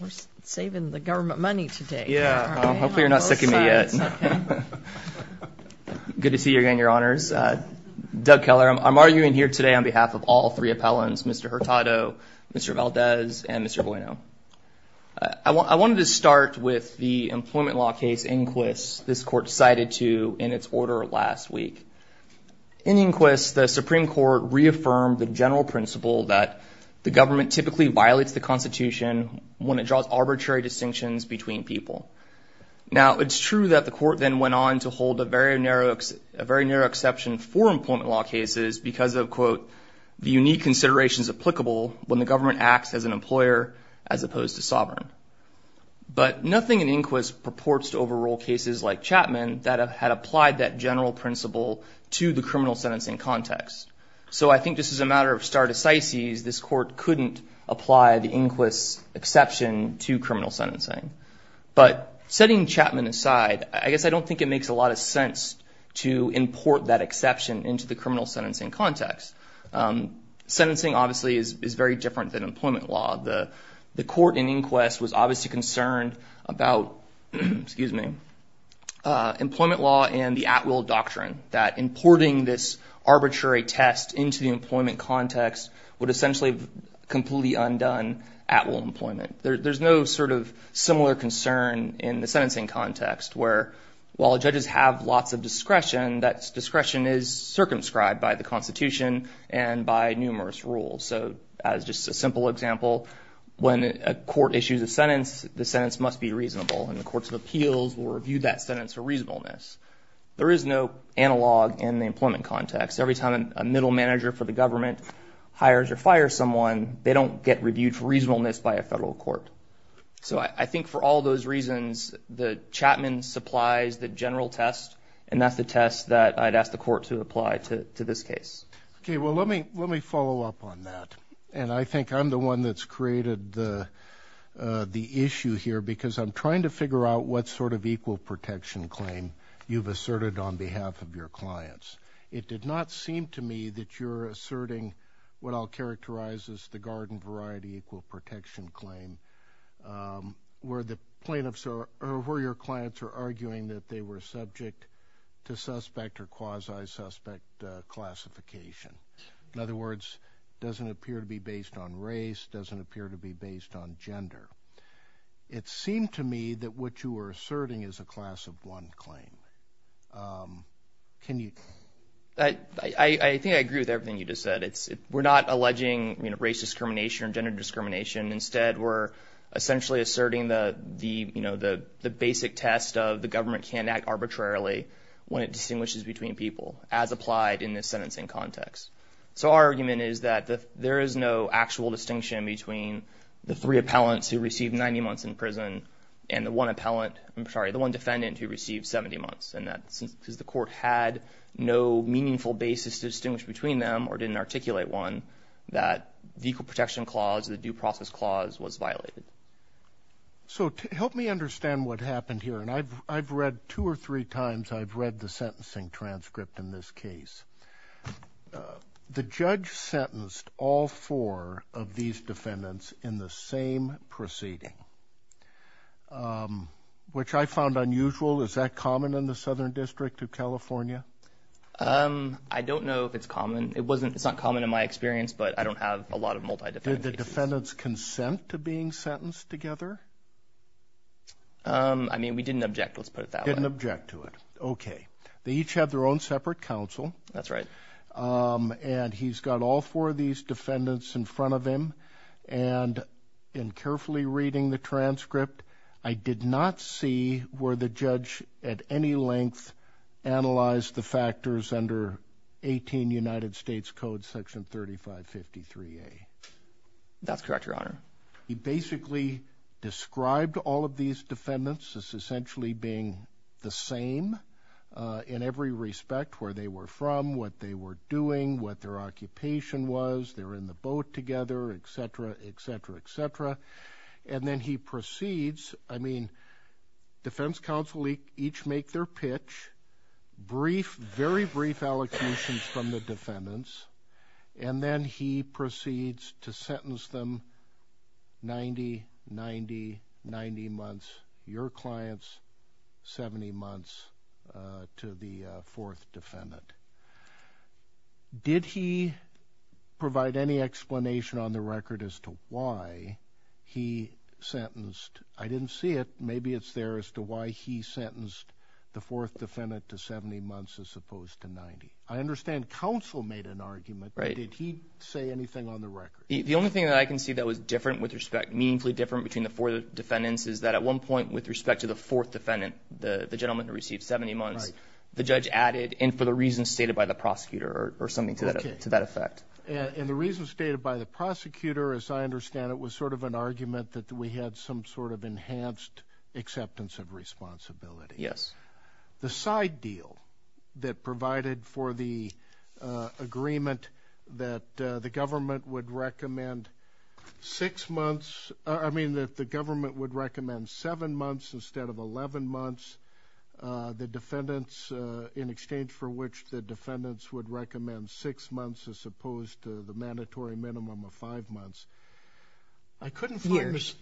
We're saving the government money today. Yeah, hopefully you're not sick of me yet. Good to see you again, Your Honors. Doug Keller. I'm arguing here today on behalf of all three appellants, Mr. Hurtado, Mr. Valdez, and Mr. Bueno. I wanted to start with the employment law case, Inquis, this court cited to in its order last week. In Inquis, the Supreme Court reaffirmed the general principle that the government typically violates the Constitution when it draws arbitrary distinctions between people. Now, it's true that the court then went on to hold a very narrow, a very narrow exception for employment law cases because of quote, the unique considerations applicable when the government acts as an employer as opposed to sovereign. But nothing in Inquis purports to overrule cases like Chapman that have had applied that general principle to the criminal sentencing context. So I think this is a matter of stare decisis. This court couldn't apply the Inquis exception to criminal sentencing. But setting Chapman aside, I guess I don't think it makes a lot of sense to import that exception into the criminal sentencing context. Sentencing obviously is very different than employment law. The court in Inquis was obviously concerned about, excuse me, employment law and the at-will doctrine. That importing this arbitrary test into the employment context would essentially completely undone at-will employment. There's no sort of similar concern in the sentencing context where while judges have lots of discretion, that discretion is circumscribed by the Constitution and by numerous rules. So as just a simple example, when a court issues a sentence, the sentence must be reasonable. And the courts of appeals will review that sentence for reasonableness. There is no analog in the employment context. Every time a middle manager for the government hires or fires someone, they don't get reviewed for reasonableness by a federal court. So I think for all those reasons, the Chapman supplies the general test. And that's the test that I'd ask the court to apply to this case. Okay, well let me let me follow up on that. And I have an issue here because I'm trying to figure out what sort of equal protection claim you've asserted on behalf of your clients. It did not seem to me that you're asserting what I'll characterize as the garden variety equal protection claim, where the plaintiffs or where your clients are arguing that they were subject to suspect or quasi-suspect classification. In other words, doesn't appear to be based on race, doesn't appear to be based on gender. It seemed to me that what you were asserting is a class of one claim. Can you? I think I agree with everything you just said. We're not alleging, you know, race discrimination and gender discrimination. Instead, we're essentially asserting the the, you know, the the basic test of the government can act arbitrarily when it distinguishes between people, as applied in this sentencing context. So our there is no actual distinction between the three appellants who received 90 months in prison and the one appellant, I'm sorry, the one defendant who received 70 months. And that's because the court had no meaningful basis to distinguish between them or didn't articulate one, that the equal protection clause, the due process clause, was violated. So help me understand what happened here. And I've I've read two or three times I've read the sentencing transcript in this case. The judge sentenced all four of these defendants in the same proceeding, which I found unusual. Is that common in the Southern District of California? I don't know if it's common. It wasn't, it's not common in my experience, but I don't have a lot of multi-defendant cases. Did the defendants consent to being sentenced together? I mean, we didn't object, let's put it that way. Didn't object to it. Okay. They each have their own separate counsel. That's right. And he's got all four of these defendants in front of him. And in carefully reading the transcript, I did not see where the judge at any length analyzed the factors under 18 United States Code section 3553A. That's correct, Your Honor. He basically described all of these defendants as where they were from, what they were doing, what their occupation was, they're in the boat together, etc., etc., etc. And then he proceeds, I mean, defense counsel each make their pitch, brief, very brief allocations from the defendants, and then he proceeds to sentence them 90, 90, 90 months, your clients 70 months to the fourth defendant. Did he provide any explanation on the record as to why he sentenced, I didn't see it, maybe it's there as to why he sentenced the fourth defendant to 70 months as opposed to 90. I understand counsel made an argument, but did he say anything on the record? The only thing that I can see that was different with respect, meaningfully different between the four defendants is that at one point with respect to the fourth defendant, the gentleman who reason stated by the prosecutor or something to that effect. And the reason stated by the prosecutor, as I understand it, was sort of an argument that we had some sort of enhanced acceptance of responsibility. Yes. The side deal that provided for the agreement that the government would recommend six months, I mean that the government would recommend seven months instead of 11 months, the exchange for which the defendants would recommend six months as opposed to the mandatory minimum of five months. Years.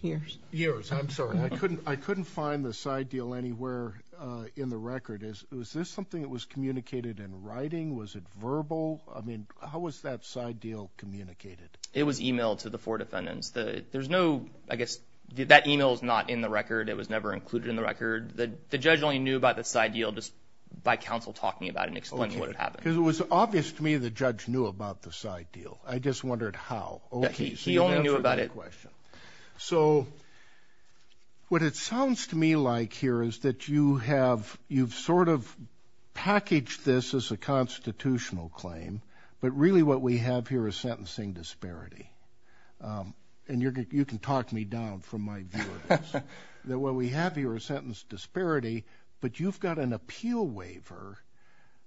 Years, I'm sorry. I couldn't find the side deal anywhere in the record. Is this something that was communicated in writing? Was it verbal? I mean, how was that side deal communicated? It was emailed to the four defendants. There's no, I guess, that email is not in the record. It was never included in the record. The judge only knew about the counsel talking about it and explaining what happened. Because it was obvious to me the judge knew about the side deal. I just wondered how? He only knew about it. So what it sounds to me like here is that you have, you've sort of packaged this as a constitutional claim, but really what we have here is sentencing disparity. And you can talk me down from my view of this. That what we have here is an appeal waiver,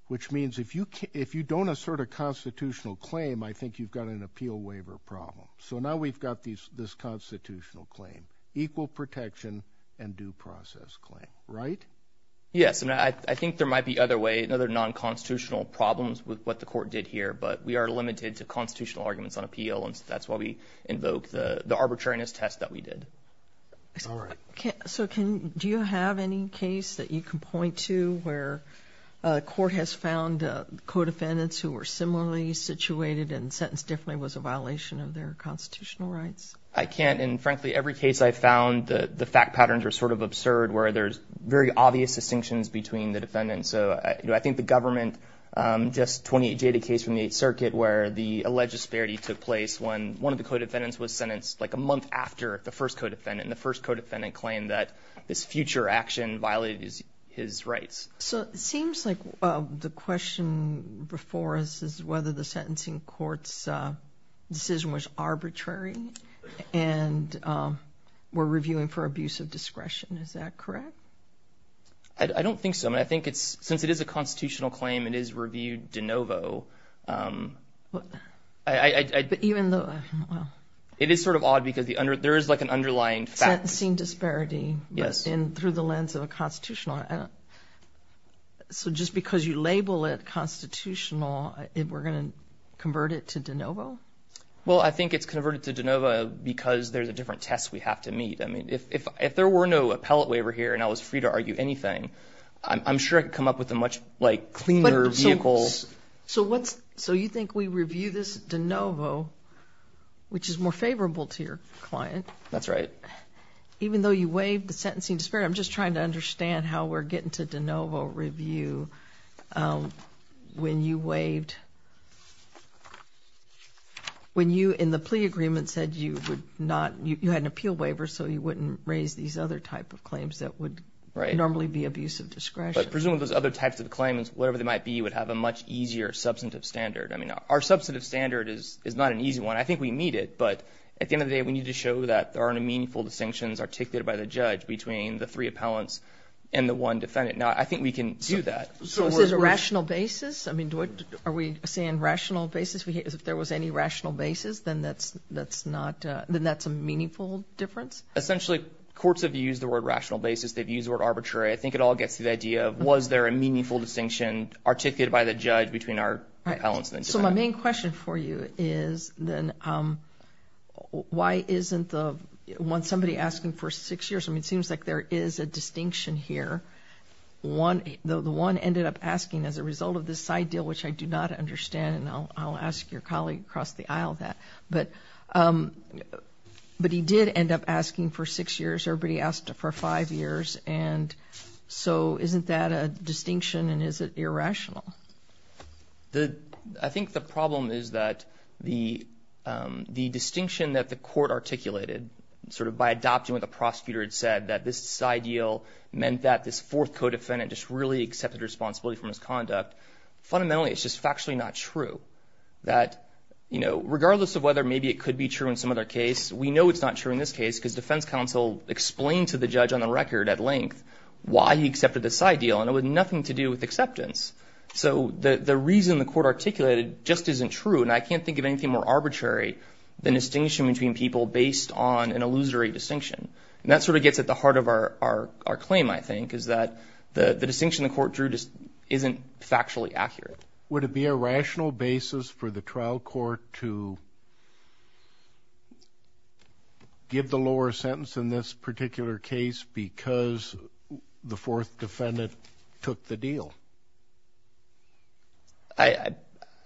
which means if you can't, if you don't assert a constitutional claim, I think you've got an appeal waiver problem. So now we've got these this constitutional claim. Equal protection and due process claim, right? Yes, and I think there might be other way, another non-constitutional problems with what the court did here, but we are limited to constitutional arguments on appeal and that's why we invoke the the arbitrariness test that we did. So can, do you have any case that you can point to where a court has found co-defendants who were similarly situated and sentenced differently was a violation of their constitutional rights? I can't and frankly every case I found the the fact patterns are sort of absurd where there's very obvious distinctions between the defendants. So I think the government, just 28J the case from the 8th Circuit where the alleged disparity took place when one of the co-defendants was sentenced like a month after the first co-defendant and the first co-defendant claimed that this future action violated his rights. So it seems like the question before us is whether the sentencing courts decision was arbitrary and we're reviewing for abuse of discretion, is that correct? I don't think so. I mean I think it's, since it is a constitutional claim, it is reviewed de novo. It is sort of odd because the under, there is like an underlying sentencing disparity, yes, and through the lens of a constitutional. So just because you label it constitutional, if we're gonna convert it to de novo? Well I think it's converted to de novo because there's a different test we have to meet. I mean if there were no appellate waiver here and I was free to So what's, so you think we review this de novo, which is more favorable to your client. That's right. Even though you waived the sentencing disparity, I'm just trying to understand how we're getting to de novo review when you waived, when you in the plea agreement said you would not, you had an appeal waiver so you wouldn't raise these other type of claims that would normally be abuse of discretion. Presumably those other types of claims, whatever they might be, would have a much easier substantive standard. I mean our substantive standard is not an easy one. I think we meet it, but at the end of the day we need to show that there aren't any meaningful distinctions articulated by the judge between the three appellants and the one defendant. Now I think we can do that. So this is a rational basis? I mean are we saying rational basis? Because if there was any rational basis then that's, that's not, then that's a meaningful difference? Essentially courts have used the word rational basis. They've used the word arbitrary. I think it all gets to the idea of was there a meaningful distinction articulated by the judge between our appellants and the defendant. So my main question for you is then why isn't the one, somebody asking for six years, I mean it seems like there is a distinction here. One, the one ended up asking as a result of this side deal, which I do not understand, and I'll ask your colleague across the aisle that, but, but he did end up asking for six years. Everybody asked for five years and so isn't that a rational? The, I think the problem is that the, the distinction that the court articulated, sort of by adopting what the prosecutor had said, that this side deal meant that this fourth co-defendant just really accepted responsibility from his conduct, fundamentally it's just factually not true. That, you know, regardless of whether maybe it could be true in some other case, we know it's not true in this case because defense counsel explained to the judge on the record at length why he accepted this side deal and it was nothing to do with acceptance. So the, the reason the court articulated just isn't true and I can't think of anything more arbitrary than a distinction between people based on an illusory distinction. And that sort of gets at the heart of our, our, our claim, I think, is that the, the distinction the court drew just isn't factually accurate. Would it be a rational basis for the trial court to give the lower sentence in this particular case because the fourth defendant took the deal? I,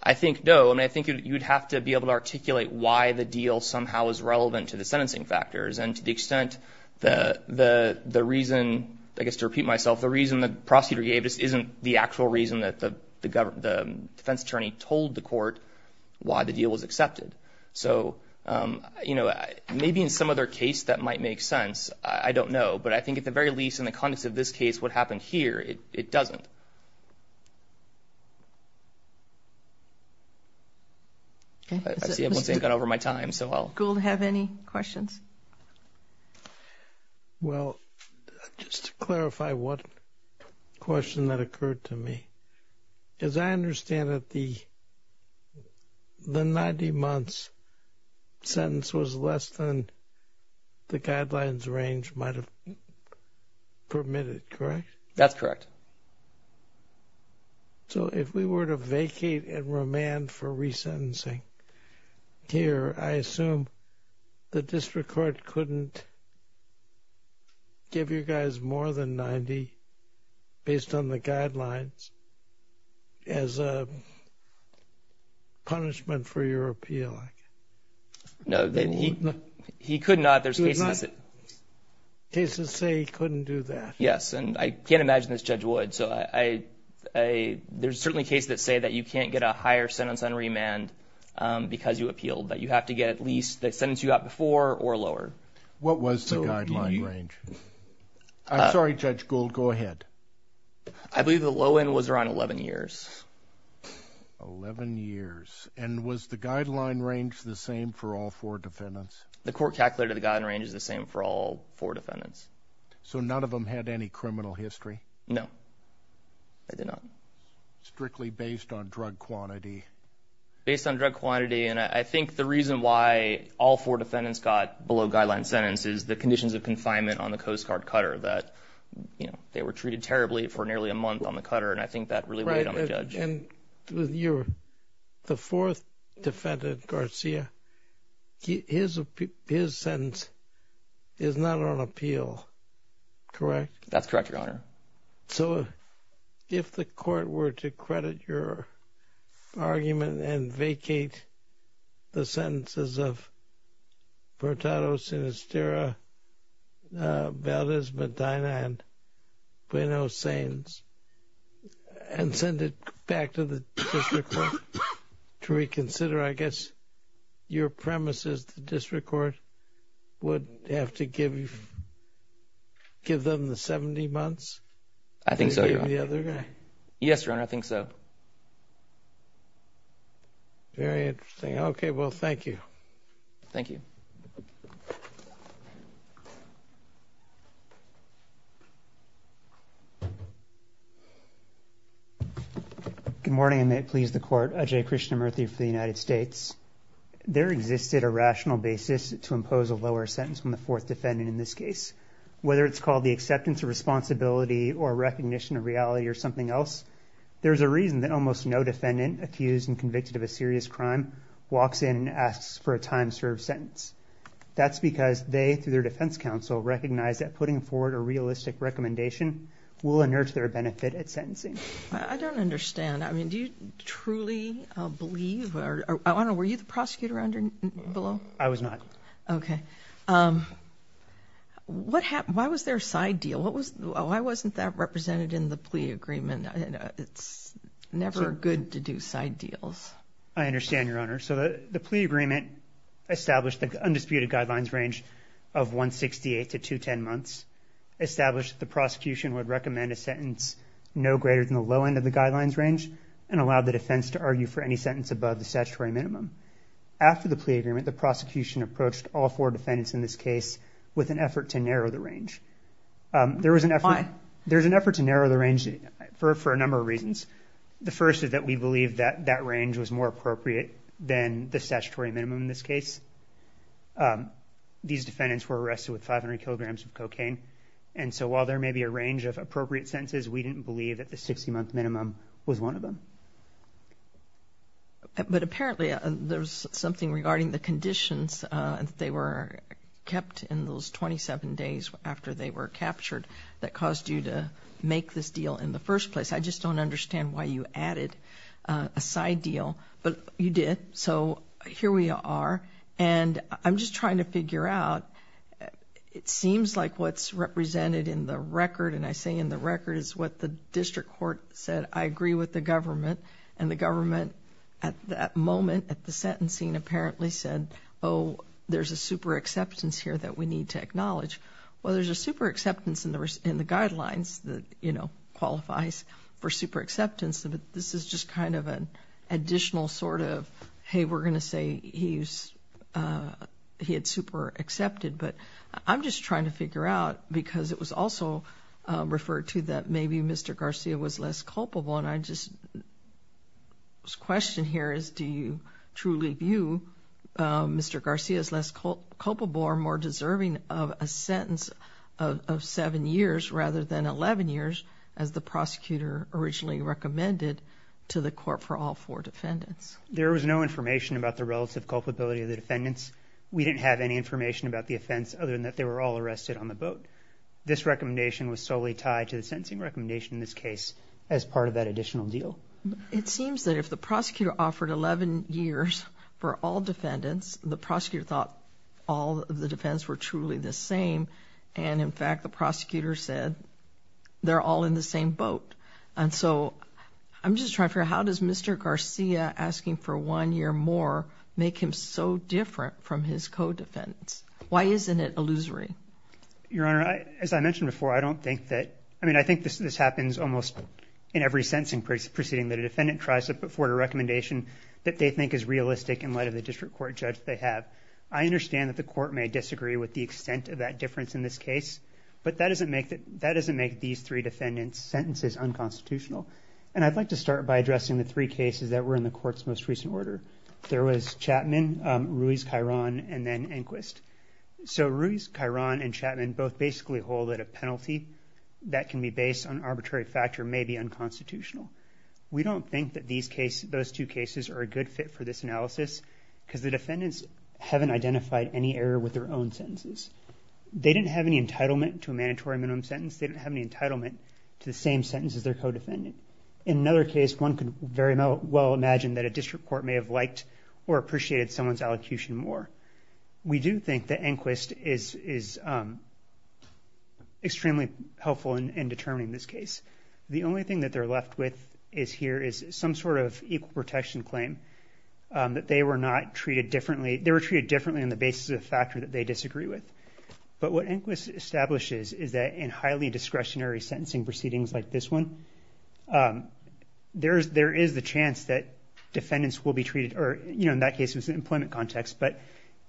I think no. I mean, I think you'd have to be able to articulate why the deal somehow is relevant to the sentencing factors and to the extent the, the, the reason, I guess to repeat myself, the reason the prosecutor gave this isn't the actual reason that the, the government, the defense attorney told the court why the deal was accepted. So, you know, maybe in some other case that might make sense. I don't know, but I think at the very least in the context of this case, what happened here, it, it doesn't. I see everyone's taken over my time, so I'll... Gould, have any questions? Well, just to clarify what question that occurred to me. As I understand it, the, the 90 months sentence was less than the guidelines range might have permitted, correct? That's correct. So if we were to vacate and remand for resentencing here, I assume the district court couldn't give you guys more than 90 based on the guidelines as a punishment for your appeal? No, he, he could not. There's cases that... Cases say he couldn't do that. Yes, and I can't imagine this Judge Wood, so I, I, there's certainly cases that say that you can't get a higher sentence on remand because you appealed, that you appealed lower. What was the guideline range? I'm sorry, Judge Gould, go ahead. I believe the low end was around 11 years. 11 years. And was the guideline range the same for all four defendants? The court calculated the guideline range is the same for all four defendants. So none of them had any criminal history? No, they did not. Strictly based on drug quantity. Based on drug quantity. And I think the reason why all four defendants got below guideline sentence is the conditions of confinement on the Coast Guard cutter that, you know, they were treated terribly for nearly a month on the cutter. And I think that really weighed on the judge. And you're the fourth defendant, Garcia, his, his sentence is not on appeal, correct? That's correct, Your Honor. So if the court were to credit your argument and vacate the sentences of Hurtado, Sinisterra, Valdez, Medina, and Bueno-Sanes and send it back to the district court to reconsider, I guess your premise is the district court would have to give you, give them the 70 months? I think so, Your Honor. Yes, Your Honor, I think so. Very interesting. Okay. Well, thank you. Thank you. Good morning, and may it please the court. Ajay Krishnamurthy for the United States. There existed a rational basis to impose a lower sentence on the fourth defendant in this case, whether it's called the acceptance of responsibility or recognition of reality or something else. There's a reason that almost no defendant accused and convicted of a serious crime walks in and asks for a time served sentence. That's because they, through their defense counsel, recognize that putting forward a realistic recommendation will inert their benefit at sentencing. I don't understand. I mean, do you truly believe, or I don't know, were you the prosecutor below? I was not. Okay. Why was there a side deal? Why wasn't that represented in the plea agreement? It's never good to do side deals. I understand, Your Honor. So the plea agreement established the undisputed guidelines range of 168 to 210 months, established that the prosecution would recommend a sentence no greater than the low end of the guidelines range, and allowed the defense to argue for any sentence above the statutory minimum. After the plea agreement, the prosecution approached all four defendants in this case with an effort to narrow the range. There was an effort to narrow the range for a number of reasons. The first is that we believe that that range was more appropriate than the statutory minimum in this case. These defendants were arrested with 500 kilograms of cocaine. And so while there may be a range of appropriate sentences, we didn't believe that the 60-month minimum was one of them. But apparently, there's something regarding the conditions that they were kept in those 27 days after they were captured that caused you to make this deal in the first place. I just don't understand why you added a side deal. But you did, so here we are. And I'm just trying to figure out, it seems like what's represented in the record, and I say in the record is what the district court said, I agree with the government. And the government, at that moment, at the sentencing, apparently said, oh, there's a super acceptance here that we need to acknowledge. Well, there's a super acceptance in the guidelines that qualifies for super acceptance, but this is just kind of an additional sort of, hey, we're going to say he had super accepted. But I'm just trying to figure out, because it was also referred to that maybe Mr. Garcia was less culpable, and I just question here is, do you truly view Mr. Garcia as less culpable or more deserving of a sentence of seven years rather than 11 years, as the prosecutor originally recommended to the court for all four defendants? There was no information about the relative culpability of the defendants. We didn't have any information about the offense, other than that they were all arrested on the boat. This recommendation was solely tied to the sentencing recommendation in this case, as part of that additional deal. It seems that if the prosecutor offered 11 years for all defendants, the prosecutor thought all of the defendants were truly the same. And in fact, the prosecutor said they're all in the same boat. And so I'm just trying to figure out, how does Mr. Garcia asking for one year more make him so different from his co-defendants? Why isn't it illusory? Your Honor, as I mentioned before, I don't think that, I mean, I think this happens almost in every sentencing proceeding. That a defendant tries to put forward a recommendation that they think is realistic in light of the district court judge they have. I understand that the court may disagree with the extent of that difference in this case, but that doesn't make these three defendants' sentences unconstitutional. And I'd like to start by addressing the three cases that were in the court's most recent order. There was Chapman, Ruiz-Cairon, and then Enquist. So Ruiz-Cairon and Chapman both basically hold that a penalty that can be based on arbitrary factor may be unconstitutional. We don't think that those two cases are a good fit for this analysis because the defendants haven't identified any error with their own sentences. They didn't have any entitlement to a mandatory minimum sentence. They didn't have any entitlement to the same sentence as their co-defendant. In another case, one could very well imagine that a district court may have liked or appreciated someone's allocution more. We do think that Enquist is extremely helpful in determining this case. The only thing that they're left with here is some sort of equal protection claim that they were not treated differently. They were treated differently on the basis of the factor that they disagree with. But what Enquist establishes is that in highly discretionary sentencing proceedings like this one, there is the chance that defendants will be treated, or in that case, it was an employment context. But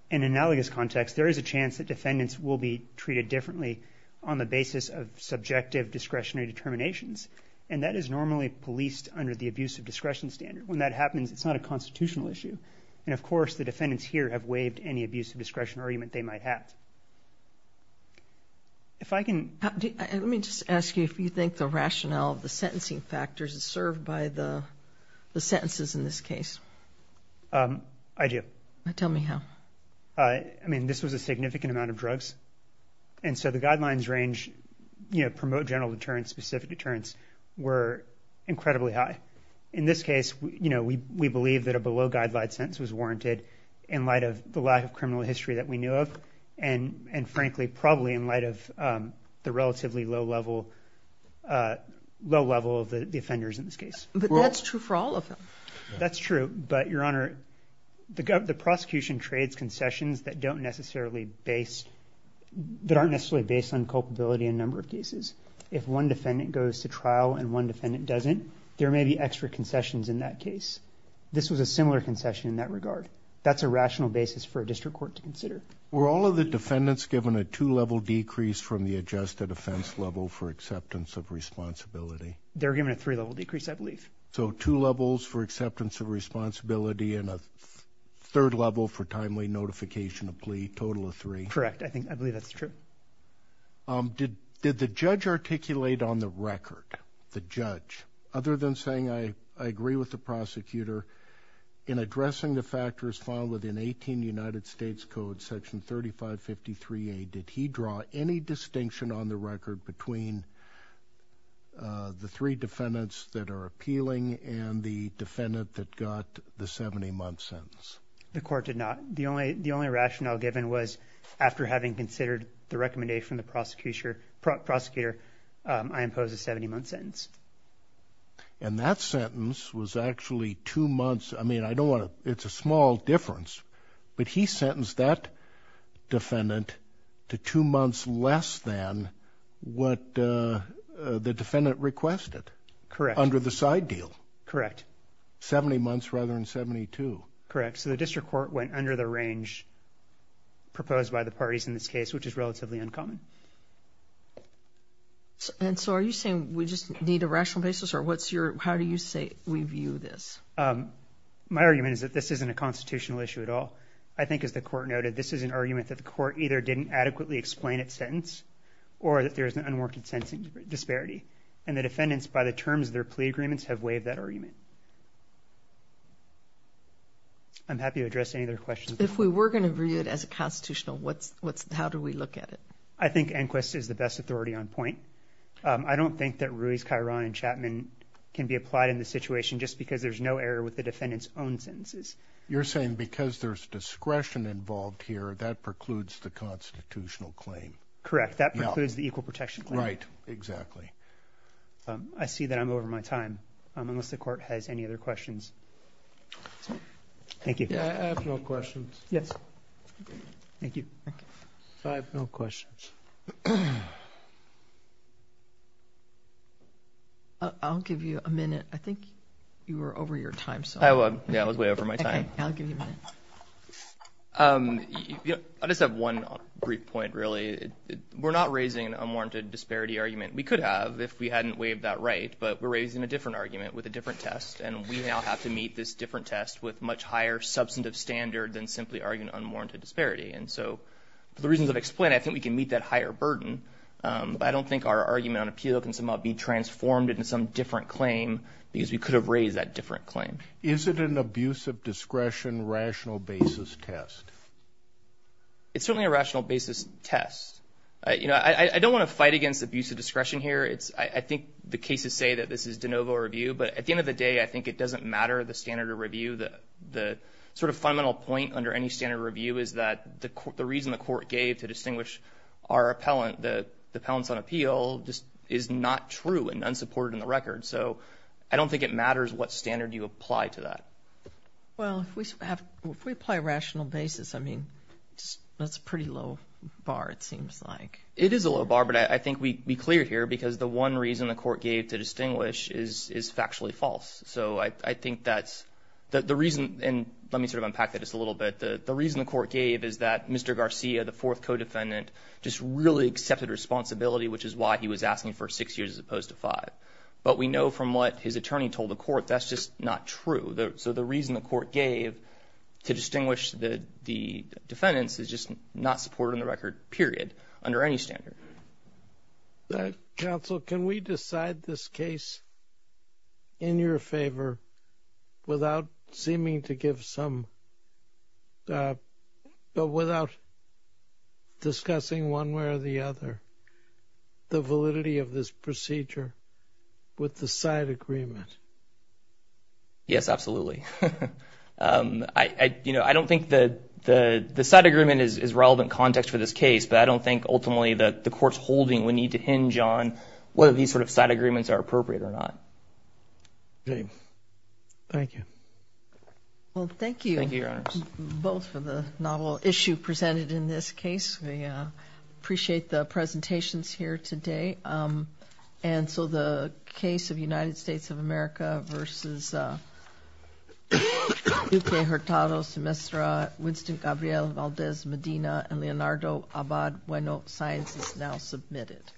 in an analogous context, there is a chance that defendants will be treated differently on the basis of subjective discretionary determinations. And that is normally policed under the abuse of discretion standard. When that happens, it's not a constitutional issue. And of course, the defendants here have waived any abuse of discretion argument they might have. If I can... Let me just ask you if you think the rationale of the sentencing factors is served by the sentences in this case. I do. Tell me how. I mean, this was a significant amount of drugs. And so the guidelines range, you know, promote general deterrence, specific deterrence, were incredibly high. In this case, you know, we believe that a below-guideline sentence was warranted in light of the lack of criminal history that we knew of. And frankly, probably in light of the relatively low level of the offenders in this case. But that's true for all of them. That's true. But, Your Honor, the prosecution trades concessions that don't necessarily base... That aren't necessarily based on culpability in a number of cases. If one defendant goes to trial and one defendant doesn't, there may be extra concessions in that case. This was a similar concession in that regard. That's a rational basis for a district court to consider. Were all of the defendants given a two-level decrease from the adjusted offense level for acceptance of responsibility? They were given a three-level decrease, I believe. So two levels for acceptance of responsibility and a third level for timely notification of plea. Total of three. Correct. I think... I believe that's true. Did the judge articulate on the record? The judge? Other than saying, I agree with the prosecutor in addressing the section 3553A, did he draw any distinction on the record between the three defendants that are appealing and the defendant that got the 70-month sentence? The court did not. The only rationale given was, after having considered the recommendation of the prosecutor, I impose a 70-month sentence. And that sentence was actually two months... I mean, I don't want to... It's a small difference. But he sentenced that defendant to two months less than what the defendant requested under the side deal. Correct. Seventy months rather than 72. Correct. So the district court went under the range proposed by the parties in this case, which is relatively uncommon. And so are you saying we just need a rational basis? Or what's your... How do you say we view this? My argument is that this isn't a constitutional issue at all. I think, as the court noted, this is an argument that the court either didn't adequately explain its sentence or that there is an unworked sentencing disparity. And the defendants, by the terms of their plea agreements, have waived that argument. I'm happy to address any other questions. If we were going to view it as a constitutional, how do we look at it? I think Enquist is the best authority on point. I don't think that Ruiz-Cayron and Chapman can be applied in this way with the defendant's own sentences. You're saying because there's discretion involved here, that precludes the constitutional claim. Correct. That precludes the equal protection claim. Right. Exactly. I see that I'm over my time. Unless the court has any other questions. Thank you. I have no questions. Yes. Thank you. I have no questions. I'll give you a minute. I think you were over your time. I was. Yeah, I was way over my time. Okay. I'll give you a minute. I just have one brief point, really. We're not raising an unwarranted disparity argument. We could have if we hadn't waived that right, but we're raising a different argument with a different test, and we now have to meet this different test with much higher substantive standard than simply arguing unwarranted disparity. And so, for the reasons I've explained, I think we can meet that higher burden, but I don't think our argument on appeal can somehow be transformed into some different claim because we could have raised that with a different claim. Is it an abuse of discretion, rational basis test? It's certainly a rational basis test. You know, I don't want to fight against abuse of discretion here. I think the cases say that this is de novo review, but at the end of the day, I think it doesn't matter the standard of review. The sort of fundamental point under any standard of review is that the reason the court gave to distinguish our appellant, the appellants on appeal, is not true and unsupported in the record. So, I don't think it matters what standard you apply to that. Well, if we apply rational basis, I mean, that's a pretty low bar, it seems like. It is a low bar, but I think we cleared here because the one reason the court gave to distinguish is factually false. So, I think that's the reason, and let me sort of unpack that just a little bit. The reason the court gave is that Mr. Garcia, the fourth co-defendant, just really accepted responsibility, which is why he was asking for six years as opposed to five. But we know from what his attorney told the court, that's just not true. So, the reason the court gave to distinguish the defendants is just not supported in the record, period, under any standard. Counsel, can we decide this case in your favor without seeming to give some, but without discussing one way or the other the validity of this case with the side agreement? Yes, absolutely. You know, I don't think the side agreement is relevant context for this case, but I don't think ultimately that the court's holding would need to hinge on whether these sort of side agreements are appropriate or not. Okay. Thank you. Well, thank you. Thank you, Your Honors. Both for the novel issue presented in this case. We appreciate the presentations here today. And so, the case of United States of America versus Duque Hurtado, Semestra, Winston Gabriel, Valdez, Medina, and Leonardo Abad-Bueno science is now submitted.